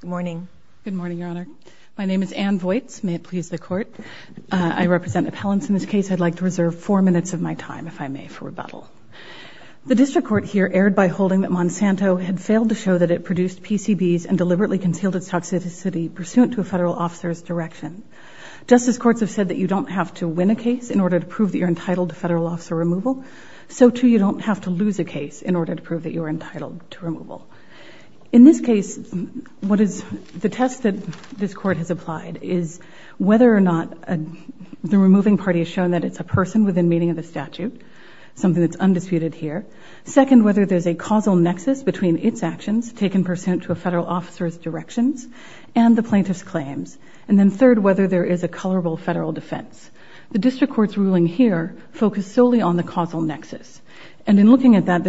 Good morning. Good morning, Your Honor. My name is Ann Voights. May it please the Court. I represent appellants in this case. I'd like to reserve four minutes of my time, if I may, for rebuttal. The district court here erred by holding that Monsanto had failed to show that it produced PCBs and deliberately concealed its toxicity pursuant to a federal officer's direction. Justice courts have said that you don't have to win a case in order to prove that you're entitled to federal officer removal, so too you don't have to lose a case in order to The test that this Court has applied is whether or not the removing party has shown that it's a person within meaning of the statute, something that's undisputed here. Second, whether there's a causal nexus between its actions, taken pursuant to a federal officer's directions, and the plaintiff's claims. And then third, whether there is a colorable federal defense. The district court's ruling here focused solely on the causal nexus, and in looking at that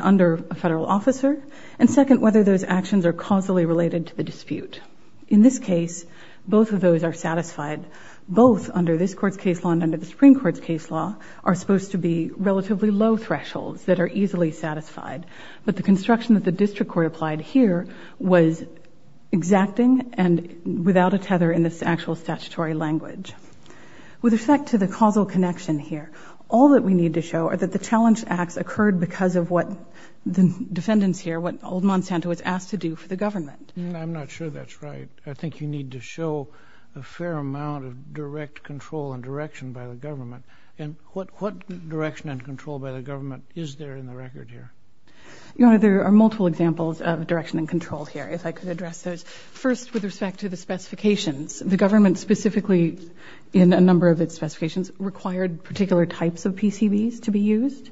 under a federal officer. And second, whether those actions are causally related to the dispute. In this case, both of those are satisfied. Both, under this Court's case law and under the Supreme Court's case law, are supposed to be relatively low thresholds that are easily satisfied. But the construction that the district court applied here was exacting and without a tether in this actual statutory language. With respect to the causal connection here, all that we need to show are that the challenge acts occurred because of what the defendants here, what Old Monsanto was asked to do for the government. I'm not sure that's right. I think you need to show a fair amount of direct control and direction by the government. And what direction and control by the government is there in the record here? Your Honor, there are multiple examples of direction and control here, if I could address those. First, with respect to the specifications, the government specifically, in a number of its specifications, required particular types of PCBs to be used.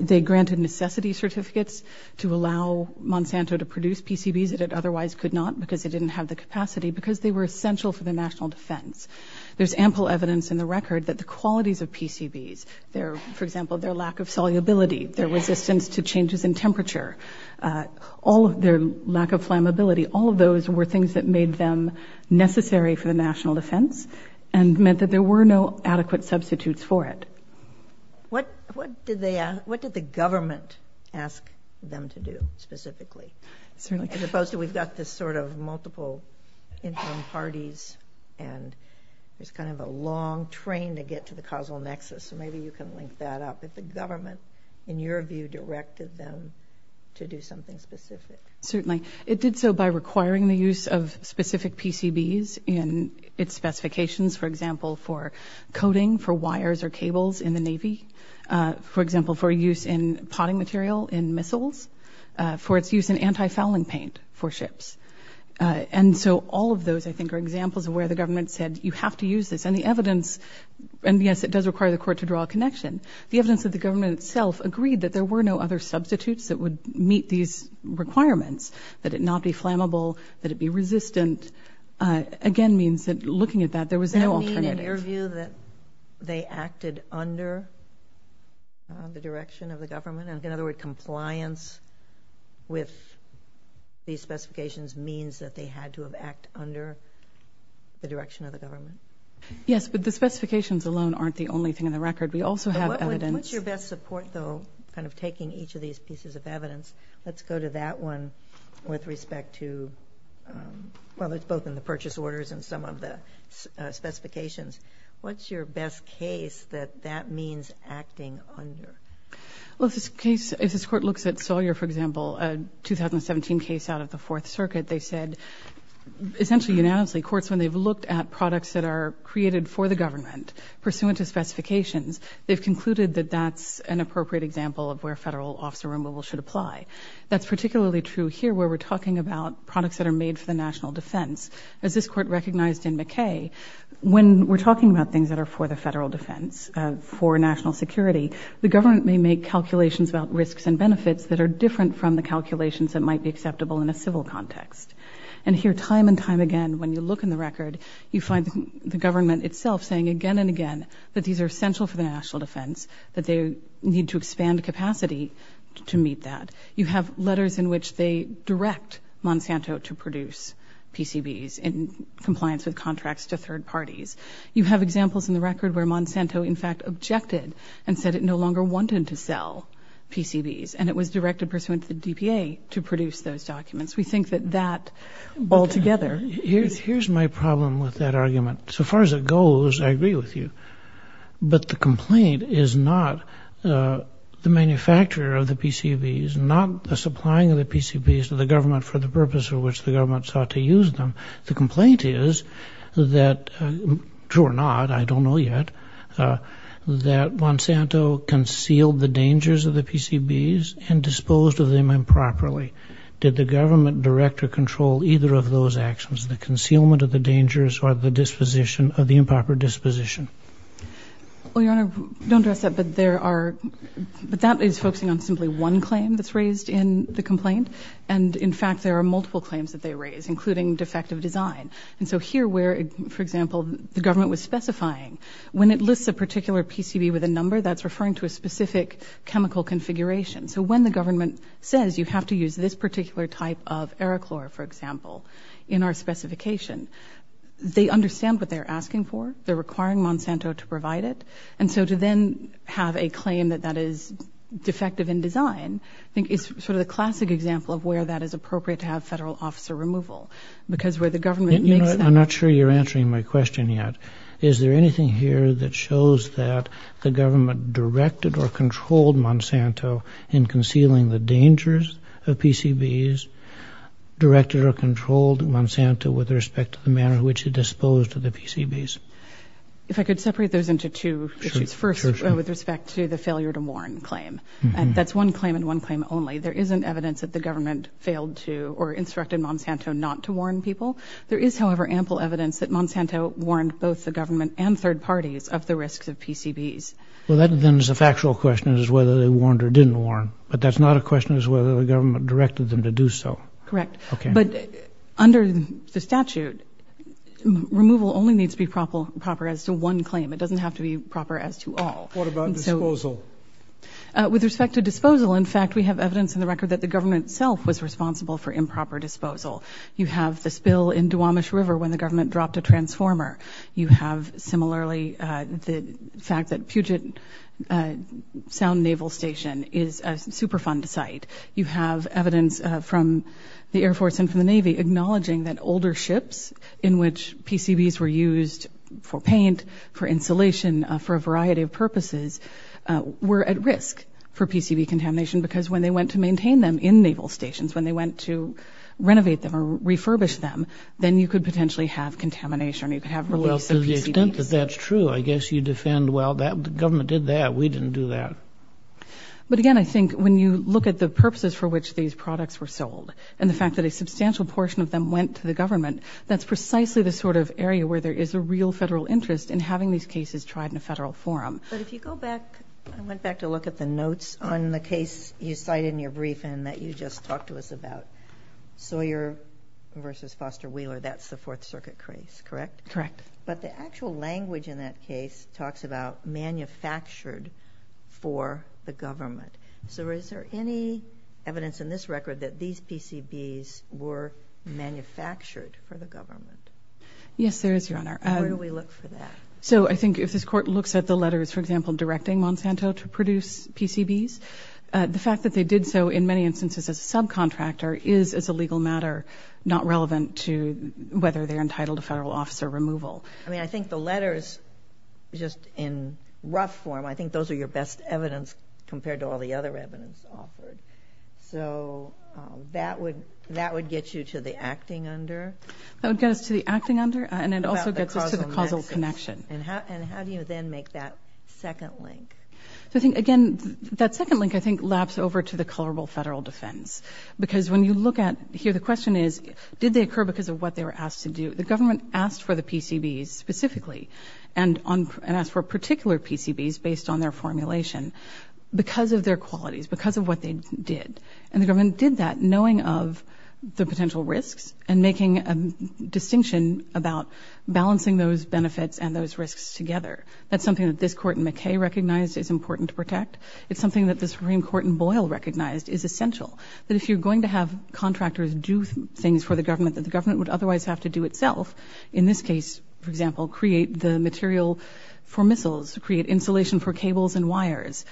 They granted necessity certificates to allow Monsanto to produce PCBs that it otherwise could not because it didn't have the capacity, because they were essential for the national defense. There's ample evidence in the record that the qualities of PCBs, their, for example, their lack of solubility, their resistance to changes in temperature, their lack of flammability, all of those were things that made them necessary for the national defense and meant that there were no adequate substitutes for it. What did the government ask them to do, specifically? As opposed to, we've got this sort of multiple interim parties and there's kind of a long train to get to the causal nexus. So maybe you can link that up, if the government, in your view, directed them to do something specific. Certainly. It did so by requiring the use of specific PCBs in its specifications, for example, for coating, for wires or cables in the Navy, for example, for use in potting material, in missiles, for its use in anti fouling paint for ships. And so all of those, I think, are examples of where the government said, you have to use this. And the evidence... And yes, it does require the court to draw a connection. The evidence that the government itself agreed that there were no other substitutes that would meet these requirements, that it not be looking at that, there was no alternative. Does that mean, in your view, that they acted under the direction of the government? In other words, compliance with these specifications means that they had to have act under the direction of the government? Yes, but the specifications alone aren't the only thing in the record. We also have evidence... What's your best support, though, kind of taking each of these pieces of evidence? Let's go to that one with respect to... Some of the numbers and some of the specifications. What's your best case that that means acting under? Well, if this case... If this court looks at Sawyer, for example, a 2017 case out of the Fourth Circuit, they said, essentially unanimously, courts, when they've looked at products that are created for the government, pursuant to specifications, they've concluded that that's an appropriate example of where federal officer removal should apply. That's particularly true here, where we're talking about products that are made for the national defense. As this court recognized in McKay, when we're talking about things that are for the federal defense, for national security, the government may make calculations about risks and benefits that are different from the calculations that might be acceptable in a civil context. And here, time and time again, when you look in the record, you find the government itself saying, again and again, that these are essential for the national defense, that they need to expand capacity to meet that. You have letters in which they direct Monsanto to produce PCBs in compliance with contracts to third parties. You have examples in the record where Monsanto, in fact, objected and said it no longer wanted to sell PCBs, and it was directed pursuant to the DPA to produce those documents. We think that that, altogether... Here's my problem with that argument. So far as it goes, I agree with you, but the complaint is not the manufacturer of the PCBs, not the supplying of the PCBs to the government for the purpose for which the government sought to use them. The complaint is that, true or not, I don't know yet, that Monsanto concealed the dangers of the PCBs and disposed of them improperly. Did the government direct or control either of those actions, the concealment of the dangers or the disposition of the improper disposition? Well, Your Honor, don't address that, but there are... But that is focusing on simply one claim that's raised in the complaint. And in fact, there are multiple claims that they raise, including defective design. And so here where, for example, the government was specifying, when it lists a particular PCB with a number, that's referring to a specific chemical configuration. So when the government says you have to use this particular type of Aerochlor, for example, in our specification, they understand what they're asking for, they're requiring Monsanto to provide it. And so to then have a claim that that is defective in design, I think is sort of the classic example of where that is appropriate to have federal officer removal, because where the government makes that... I'm not sure you're answering my question yet. Is there anything here that shows that the government directed or controlled Monsanto in concealing the dangers of PCBs, directed or controlled Monsanto with respect to the manner in which it disposed of the PCBs? If I could separate those into two issues. First, with respect to the failure to warn claim. And that's one claim and one claim only. There isn't evidence that the government failed to or instructed Monsanto not to warn people. There is, however, ample evidence that Monsanto warned both the government and third parties of the risks of PCBs. Well, that then is a factual question, is whether they warned or didn't warn. But that's not a question as whether the government directed them to do so. Correct. Okay. But under the statute, removal only needs to be proper as to one claim. It doesn't have to be proper as to all. What about disposal? With respect to disposal, in fact, we have evidence in the record that the government itself was responsible for improper disposal. You have the spill in Duwamish River when the government dropped a transformer. You have, similarly, the fact that Puget Sound Naval Station is a Superfund site. You have evidence from the Air Force and from the Navy acknowledging that older ships in which PCBs were used for paint, for insulation, for a variety of purposes, were at risk for PCB contamination because when they went to maintain them in naval stations, when they went to renovate them or refurbish them, then you could potentially have contamination. You could have... Well, to the extent that that's true, I guess you defend, well, the government did that. We didn't do that. But again, I think when you look at the purposes for which these products were sold and the fact that a substantial portion of them went to the government, that's precisely the sort of area where there is a real federal interest in having these cases tried in a federal forum. But if you go back, I went back to look at the notes on the case you cited in your briefing that you just talked to us about, Sawyer versus Foster Wheeler, that's the Fourth Circuit case, correct? Correct. But the actual language in that case talks about manufactured for the government. So is there any evidence in this record that these PCBs were manufactured for the government? Yes, there is, Your Honor. Where do we look for that? So I think if this court looks at the letters, for example, directing Monsanto to produce PCBs, the fact that they did so in many instances as a subcontractor is as a legal matter not relevant to whether they're entitled to federal officer removal. I mean, I think the letters, just in rough form, I think those are your best evidence compared to all the other evidence offered. So that would get you to the acting under? That would get us to the acting under, and it also gets us to the causal connection. And how do you then make that second link? So I think, again, that second link, I think, laps over to the colorable federal defense. Because when you look at here, the question is, did they occur because of what they were asked to do? The government asked for the PCBs specifically and asked for particular PCBs based on their formulation because of their qualities, because of what they did. And the government did that knowing of the potential risks and making a distinction about balancing those benefits and those risks together. That's something that this court in McKay recognized is important to protect. It's something that the Supreme Court in Boyle recognized is essential. But if you're going to have contractors do things for the government that the government would otherwise have to do itself, in this case, for example, create the material for missiles, create insulation for cables and wires,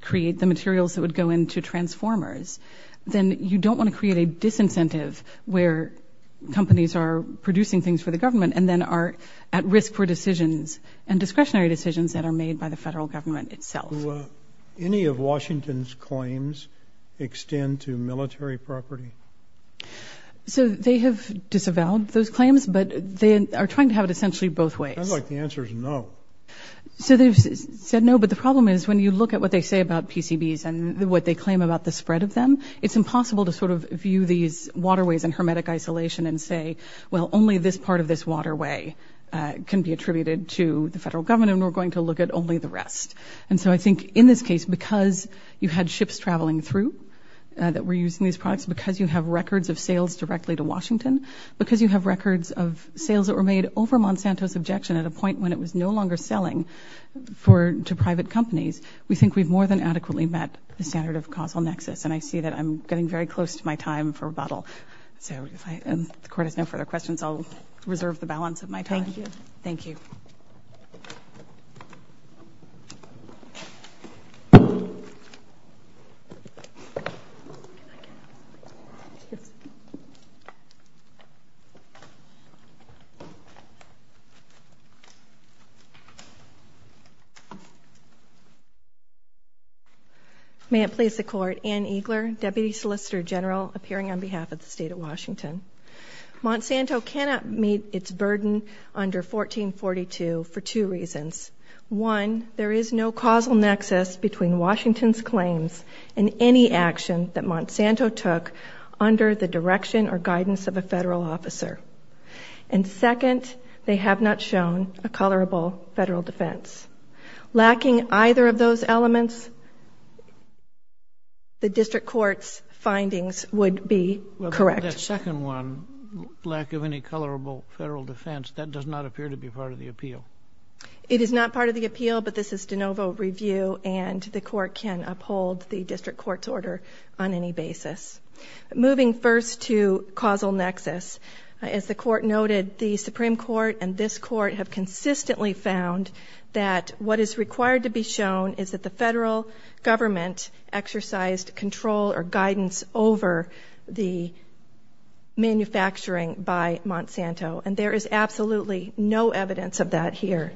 create the materials that would go into transformers, then you don't wanna create a disincentive where companies are producing things for the government and then are at risk for decisions and discretionary decisions that are made by the federal government itself. Do any of Washington's claims extend to military property? So they have disavowed those claims, but they are trying to have it essentially both ways. I'd like the answer is no. So they've said no, but the problem is when you look at what they say about PCBs and what they claim about the spread of them, it's impossible to sort of view these waterways in hermetic isolation and say, well, only this part of this waterway can be attributed to the federal government and we're going to look at only the rest. And so I think in this case, because you had ships traveling through that were using these products, because you have records of sales directly to Washington, because you have records of sales that were made over Monsanto's objection at a point when it was no longer selling to private companies, we think we've more than adequately met the standard of causal nexus. And I see that I'm getting very close to my time for rebuttal. So if the court has no further questions, I'll reserve the balance of my time. Thank you. Thank you. May it please the court. Anne Eagler, Deputy Solicitor General, appearing on behalf of the state of Washington. Monsanto cannot meet its burden under 1442 for two reasons. One, there is no causal nexus between Washington's claims and any action that Monsanto took under the direction or guidance of a federal officer. And second, they have not shown a colorable federal defense. Lacking either of those elements, the district court's findings would be correct. The second one, lack of any colorable federal defense, that does not appear to be part of the appeal. It is not part of the appeal, but this is de novo review and the court can uphold the district court's order on any basis. Moving first to causal nexus, as the court noted, the Supreme Court and this court have consistently found that what is required to be shown is that the federal government exercised control or guidance over the manufacturing by Monsanto, and there is absolutely no evidence of that here.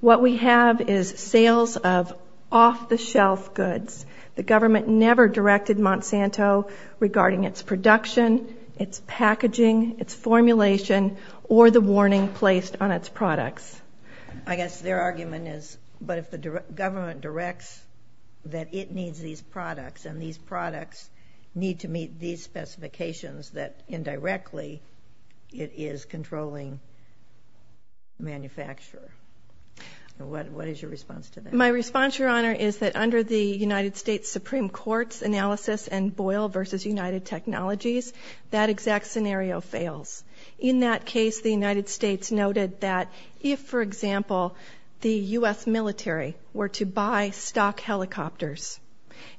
What we have is sales of off the shelf goods. The government never directed Monsanto regarding its production, its packaging, its formulation, or the warning placed on its products. I guess their argument is, but if the government directs that it needs these products and these products need to meet these specifications, that indirectly it is controlling manufacturer. What is your response to that? My response, Your Honor, is that under the United States Supreme Court's analysis and Boyle versus United Technologies, that exact scenario fails. In that case, the United States noted that if, for example, the US military were to buy stock helicopters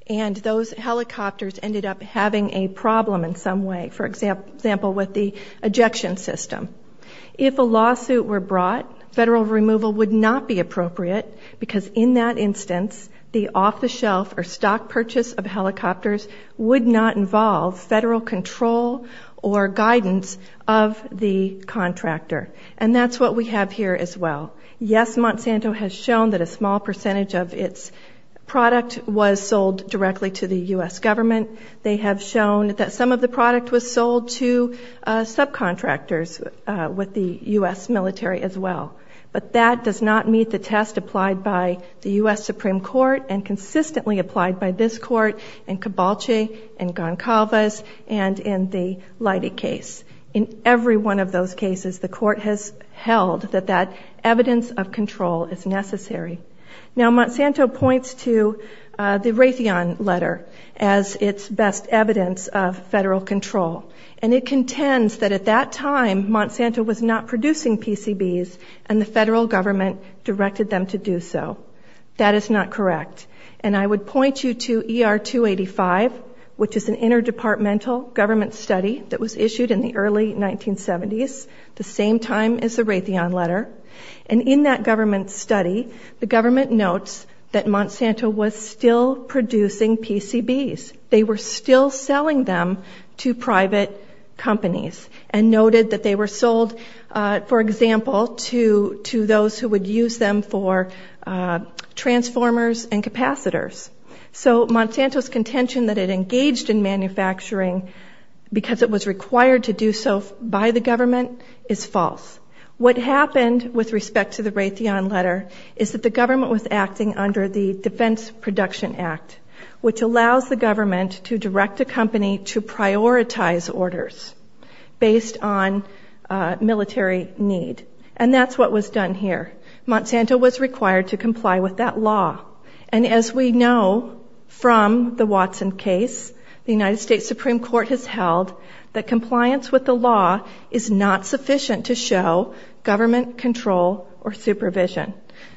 and those helicopters ended up having a problem in some way, for example, with the ejection system. If a lawsuit were brought, federal removal would not be appropriate because in that instance, the off the shelf or stock purchase of helicopters would not involve federal control or guidance of the contractor. And that's what we have here as well. Yes, Monsanto has was sold directly to the US government. They have shown that some of the product was sold to subcontractors with the US military as well, but that does not meet the test applied by the US Supreme Court and consistently applied by this court and Cabalchi and Goncalves and in the Leidy case. In every one of those cases, the court has held that that evidence of control is necessary. Now, Monsanto points to the Raytheon letter as its best evidence of federal control. And it contends that at that time, Monsanto was not producing PCBs and the federal government directed them to do so. That is not correct. And I would point you to ER 285, which is an interdepartmental government study that was issued in the early 1970s, the same time as the Raytheon letter. And in that government study, the government notes that Monsanto was still producing PCBs. They were still selling them to private companies and noted that they were sold, for example, to those who would use them for transformers and capacitors. So Monsanto's contention that it engaged in manufacturing because it was required to do so by the government is false. What happened with respect to the Raytheon letter is that the Raytheon letter is based on the Raytheon Production Act, which allows the government to direct a company to prioritize orders based on military need. And that's what was done here. Monsanto was required to comply with that law. And as we know from the Watson case, the United States Supreme Court has held that compliance with the law is not sufficient to show government control or supervision.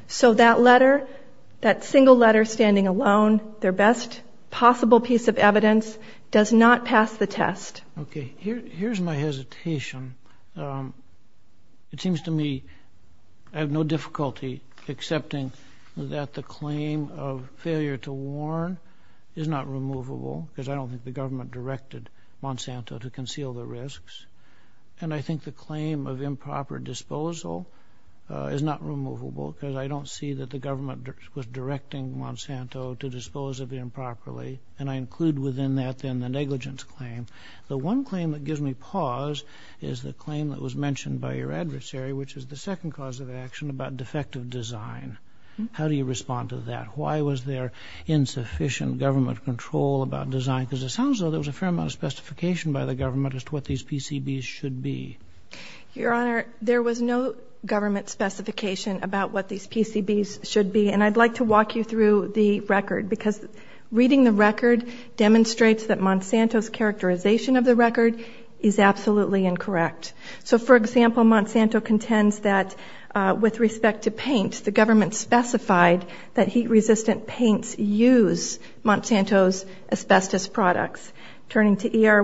So that letter, that single letter standing alone, their best possible piece of evidence, does not pass the test. Okay. Here's my hesitation. It seems to me I have no difficulty accepting that the claim of failure to warn is not removable, because I don't think the government directed Monsanto to conceal the risks. And I think the claim of disposal is not removable, because I don't see that the government was directing Monsanto to dispose of it improperly. And I include within that then the negligence claim. The one claim that gives me pause is the claim that was mentioned by your adversary, which is the second cause of action about defective design. How do you respond to that? Why was there insufficient government control about design? Because it sounds like there was a fair amount of specification by the government as to what these PCBs should be. Your Honor, there was no government specification about what these PCBs should be. And I'd like to walk you through the record, because reading the record demonstrates that Monsanto's characterization of the record is absolutely incorrect. So for example, Monsanto contends that with respect to paint, the government specified that heat resistant paints use Monsanto's asbestos products. Turning to ER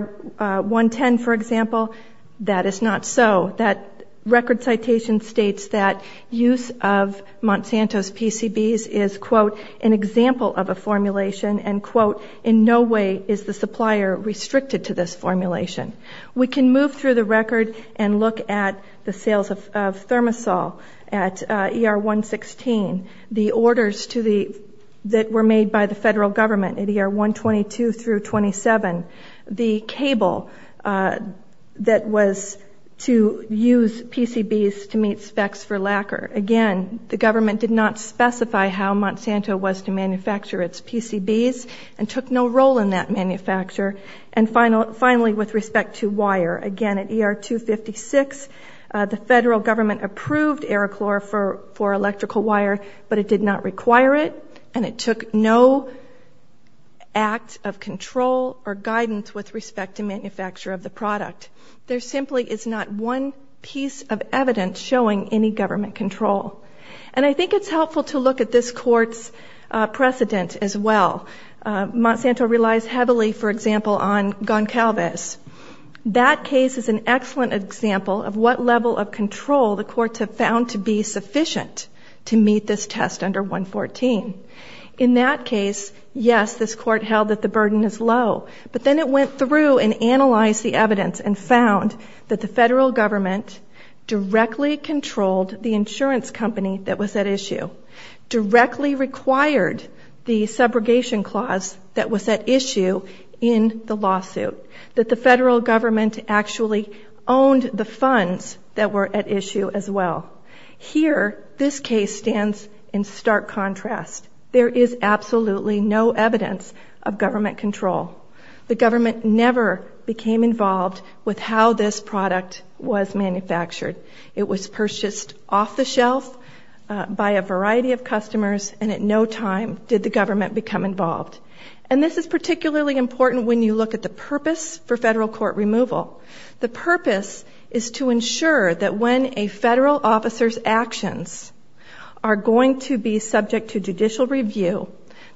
110, for example, that is not so. That record citation states that use of Monsanto's PCBs is quote, an example of a formulation, and quote, in no way is the supplier restricted to this formulation. We can move through the record and look at the sales of Thermosol at ER 116, the orders that were made by the federal government at ER 122 through 27, the cable that was to use PCBs to meet specs for lacquer. Again, the government did not specify how Monsanto was to manufacture its PCBs and took no role in that manufacture. And finally, with respect to wire, again at ER 256, the federal government approved Aerochlor for electrical wire, but it did not require it, and it took no act of control or guidance with respect to manufacture of the product. There simply is not one piece of evidence showing any government control. And I think it's helpful to look at this court's precedent as well. Monsanto relies heavily, for example, on Goncalves. That case is an excellent example of what level of control the courts have found to be sufficient to meet this test under 114. In that case, yes, this court held that the burden is low, but then it went through and analyzed the evidence and found that the federal government directly controlled the insurance company that was at issue, directly required the subrogation clause that was at issue in the lawsuit, that the federal government actually owned the funds that were at issue as well. Here, this case stands in stark contrast. There is absolutely no evidence of government control. The government never became involved with how this product was manufactured. It was purchased off the shelf by a variety of customers, and at no time did the government become involved. And this is particularly important when you look at the purpose for federal court removal. The purpose is to ensure that when a federal officer's actions are going to be subject to judicial review,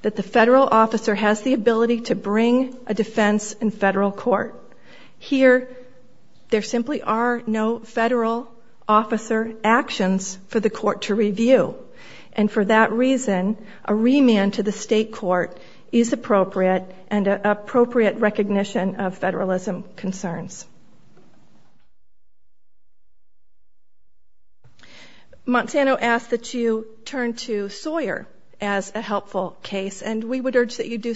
that the federal officer has the ability to bring a defense in federal court. Here, there simply are no federal officer actions for the court to review. And for that reason, a remand to the state court is appropriate, and an appropriate recognition of federalism concerns. Monsanto asks that you turn to Sawyer as a helpful case, and we would agree.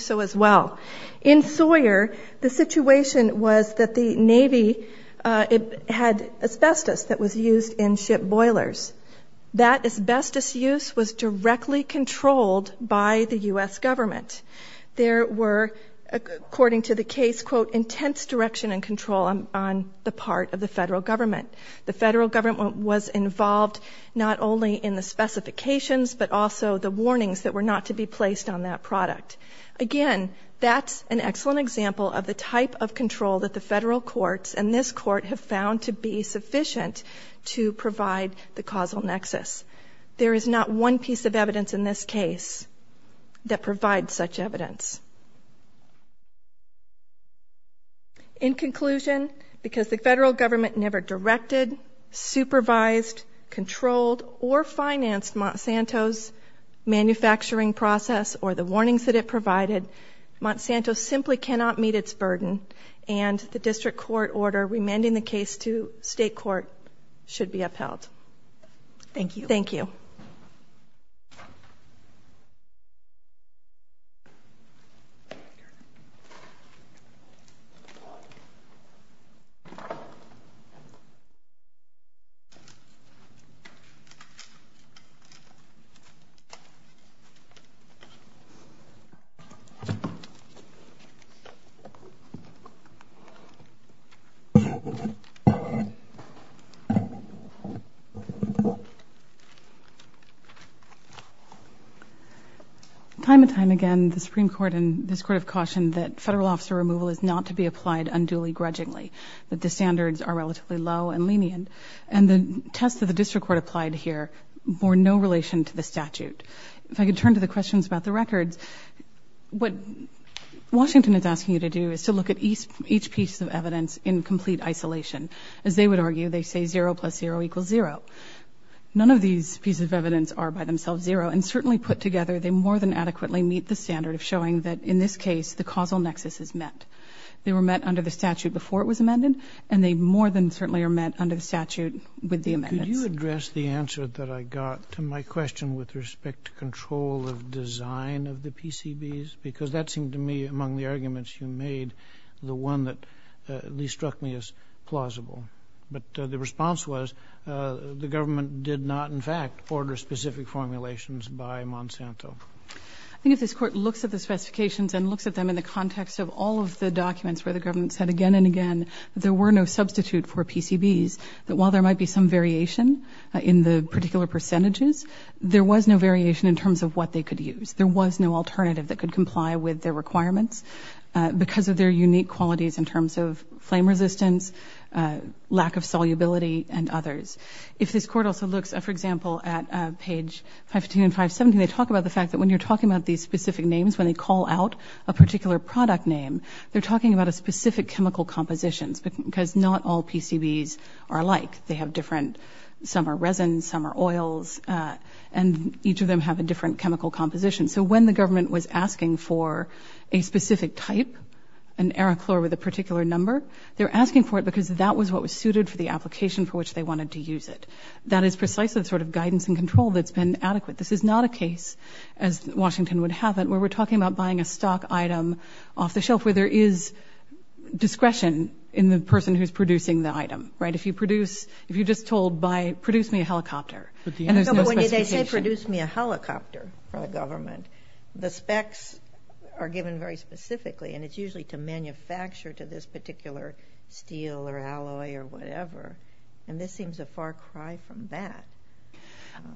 In Sawyer, the situation was that the Navy had asbestos that was used in ship boilers. That asbestos use was directly controlled by the US government. There were, according to the case, quote, intense direction and control on the part of the federal government. The federal government was involved not only in the specifications, but also the warnings that were not to be placed on that product. Again, that's an excellent example of the type of control that the federal courts and this court have found to be sufficient to provide the causal nexus. There is not one piece of evidence in this case that provides such evidence. In conclusion, because the federal government never directed, supervised, controlled, or financed Monsanto's manufacturing process or the warnings that it provided, Monsanto simply cannot meet its burden, and the district court order remanding the case to state court should be upheld. Thank you. Thank you. Time and time again, the Supreme Court and this court have cautioned that federal officer removal is not to be applied unduly grudgingly, that the district court applied here bore no relation to the statute. If I could turn to the questions about the records, what Washington is asking you to do is to look at each piece of evidence in complete isolation. As they would argue, they say zero plus zero equals zero. None of these pieces of evidence are by themselves zero, and certainly put together, they more than adequately meet the standard of showing that in this case, the causal nexus is met. They were met under the statute before it was amended, and they more than certainly are met under the statute. I would like to address the answer that I got to my question with respect to control of design of the PCBs, because that seemed to me among the arguments you made, the one that at least struck me as plausible. But the response was, the government did not, in fact, order specific formulations by Monsanto. I think if this court looks at the specifications and looks at them in the context of all of the documents where the government said again and again, there were no substitute for PCBs, that while there might be some variation in the particular percentages, there was no variation in terms of what they could use. There was no alternative that could comply with their requirements, because of their unique qualities in terms of flame resistance, lack of solubility, and others. If this court also looks, for example, at page 515 and 517, they talk about the fact that when you're talking about these specific names, when they call out a particular product name, they're talking about a specific chemical compositions, because not all PCBs are alike. They have different, some are resin, some are oils, and each of them have a different chemical composition. So when the government was asking for a specific type, an Aerochlor with a particular number, they're asking for it because that was what was suited for the application for which they wanted to use it. That is precisely the sort of guidance and control that's been adequate. This is not a case, as Washington would have it, where we're talking about buying a stock item off the shelf, where there is discretion in the person who's producing the item, right? If you produce, if you're just told by produce me a helicopter, and there's no specification. No, but when they say produce me a helicopter for the government, the specs are given very specifically, and it's usually to manufacture to this particular steel or alloy or whatever, and this seems a far cry from that.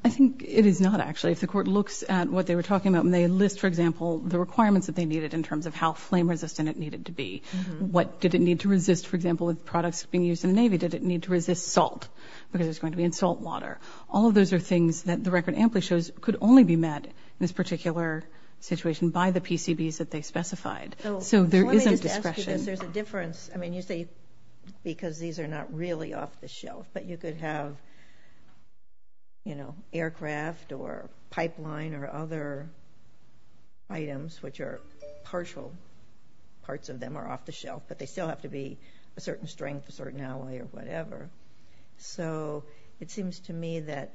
I think it is not, actually. If the court looks at what they were talking about, they list, for example, the requirements that they needed in terms of how flame resistant it needed to be. What did it need to resist? For example, with products being used in the Navy, did it need to resist salt? Because it's going to be in salt water. All of those are things that the record amply shows could only be met in this particular situation by the PCBs that they specified. So there isn't discretion. So let me just ask you this. There's a difference. I mean, you say because these are not really off the shelf, but you could have aircraft or pipeline or other items which are partial parts of them are off the shelf, but they still have to be a certain strength, a certain alloy or whatever. So it seems to me that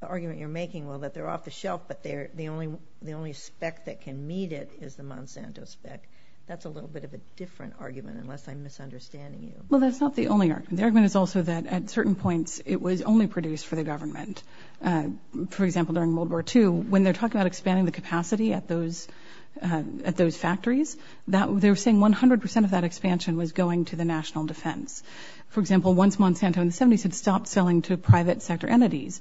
the argument you're making, well, that they're off the shelf, but the only spec that can meet it is the Monsanto spec. That's a little bit of a different argument, unless I'm misunderstanding you. Well, that's not the only argument. The argument is also that at certain points, it was only produced for the government. For example, during World War II, when they're talking about expanding the capacity at those factories, they were saying 100% of that expansion was going to the national defense. For example, once Monsanto in the 70s had stopped selling to private sector entities,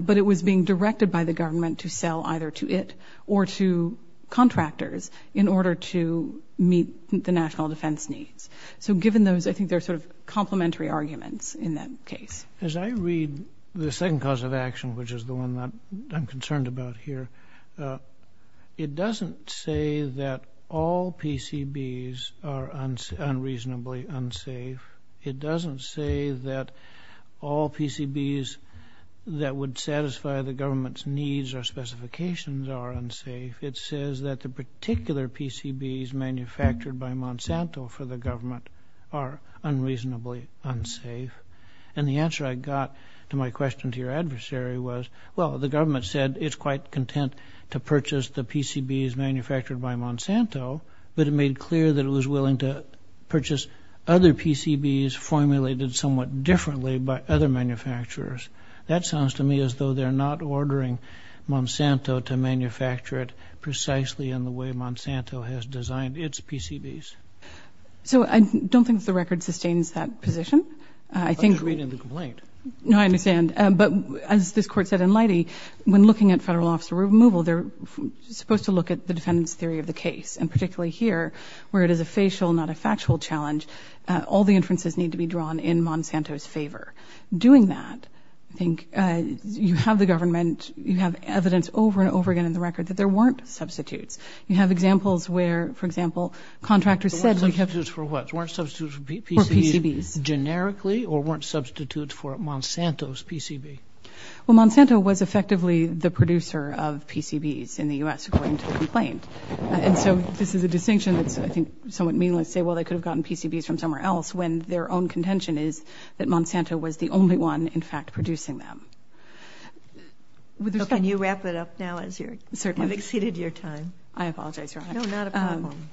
but it was being directed by the government to sell either to it or to contractors in order to meet the national defense needs. So given those, I think they're complementary arguments in that case. As I read the second cause of action, which is the one that I'm concerned about here, it doesn't say that all PCBs are unreasonably unsafe. It doesn't say that all PCBs that would satisfy the government's needs or specifications are unsafe. It says that the particular PCBs manufactured by Monsanto for the government are unreasonably unsafe. And the answer I got to my question to your adversary was, well, the government said it's quite content to purchase the PCBs manufactured by Monsanto, but it made clear that it was willing to purchase other PCBs formulated somewhat differently by other manufacturers. That sounds to me as though they're not ordering Monsanto to manufacture it precisely in the way Monsanto has designed its PCBs. So I don't think the record sustains that position. I think... I'm just reading the complaint. No, I understand. But as this court said in Leidy, when looking at federal officer removal, they're supposed to look at the defendant's theory of the case. And particularly here, where it is a facial, not a factual challenge, all the inferences need to be drawn in Monsanto's favor. Doing that, I think you have the government, you have evidence over and over again in the record that there weren't substitutes. You have examples where, for example, contractors said... There weren't substitutes for what? There weren't substitutes for PCBs... For PCBs. ...generically, or weren't substitutes for Monsanto's PCB? Well, Monsanto was effectively the producer of PCBs in the U.S., according to the complaint. And so this is a distinction that's, I think, somewhat meaningless to say, well, they could have gotten PCBs from somewhere else, when their own contention is that Monsanto was the only one, in fact, producing them. With respect... Okay, can you wrap it up now, as you have exceeded your time? I apologize, Your Honor. No, not a problem.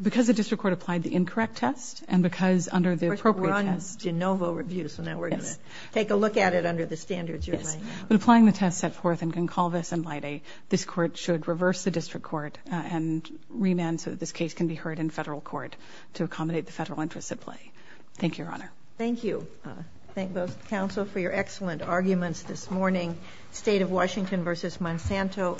Because the district court applied the incorrect test, and because under the appropriate test... We're on de novo review, so now we're going to take a look at it under the standards you're laying out. Yes. But applying the test set forth in con culvis in lae, this court should reverse the district court and remand so that this case can be heard in federal court, to accommodate the federal interests at play. Thank you, Your Honor. Thank you. Thank both the counsel for your excellent arguments this morning. State of Washington versus Monsanto.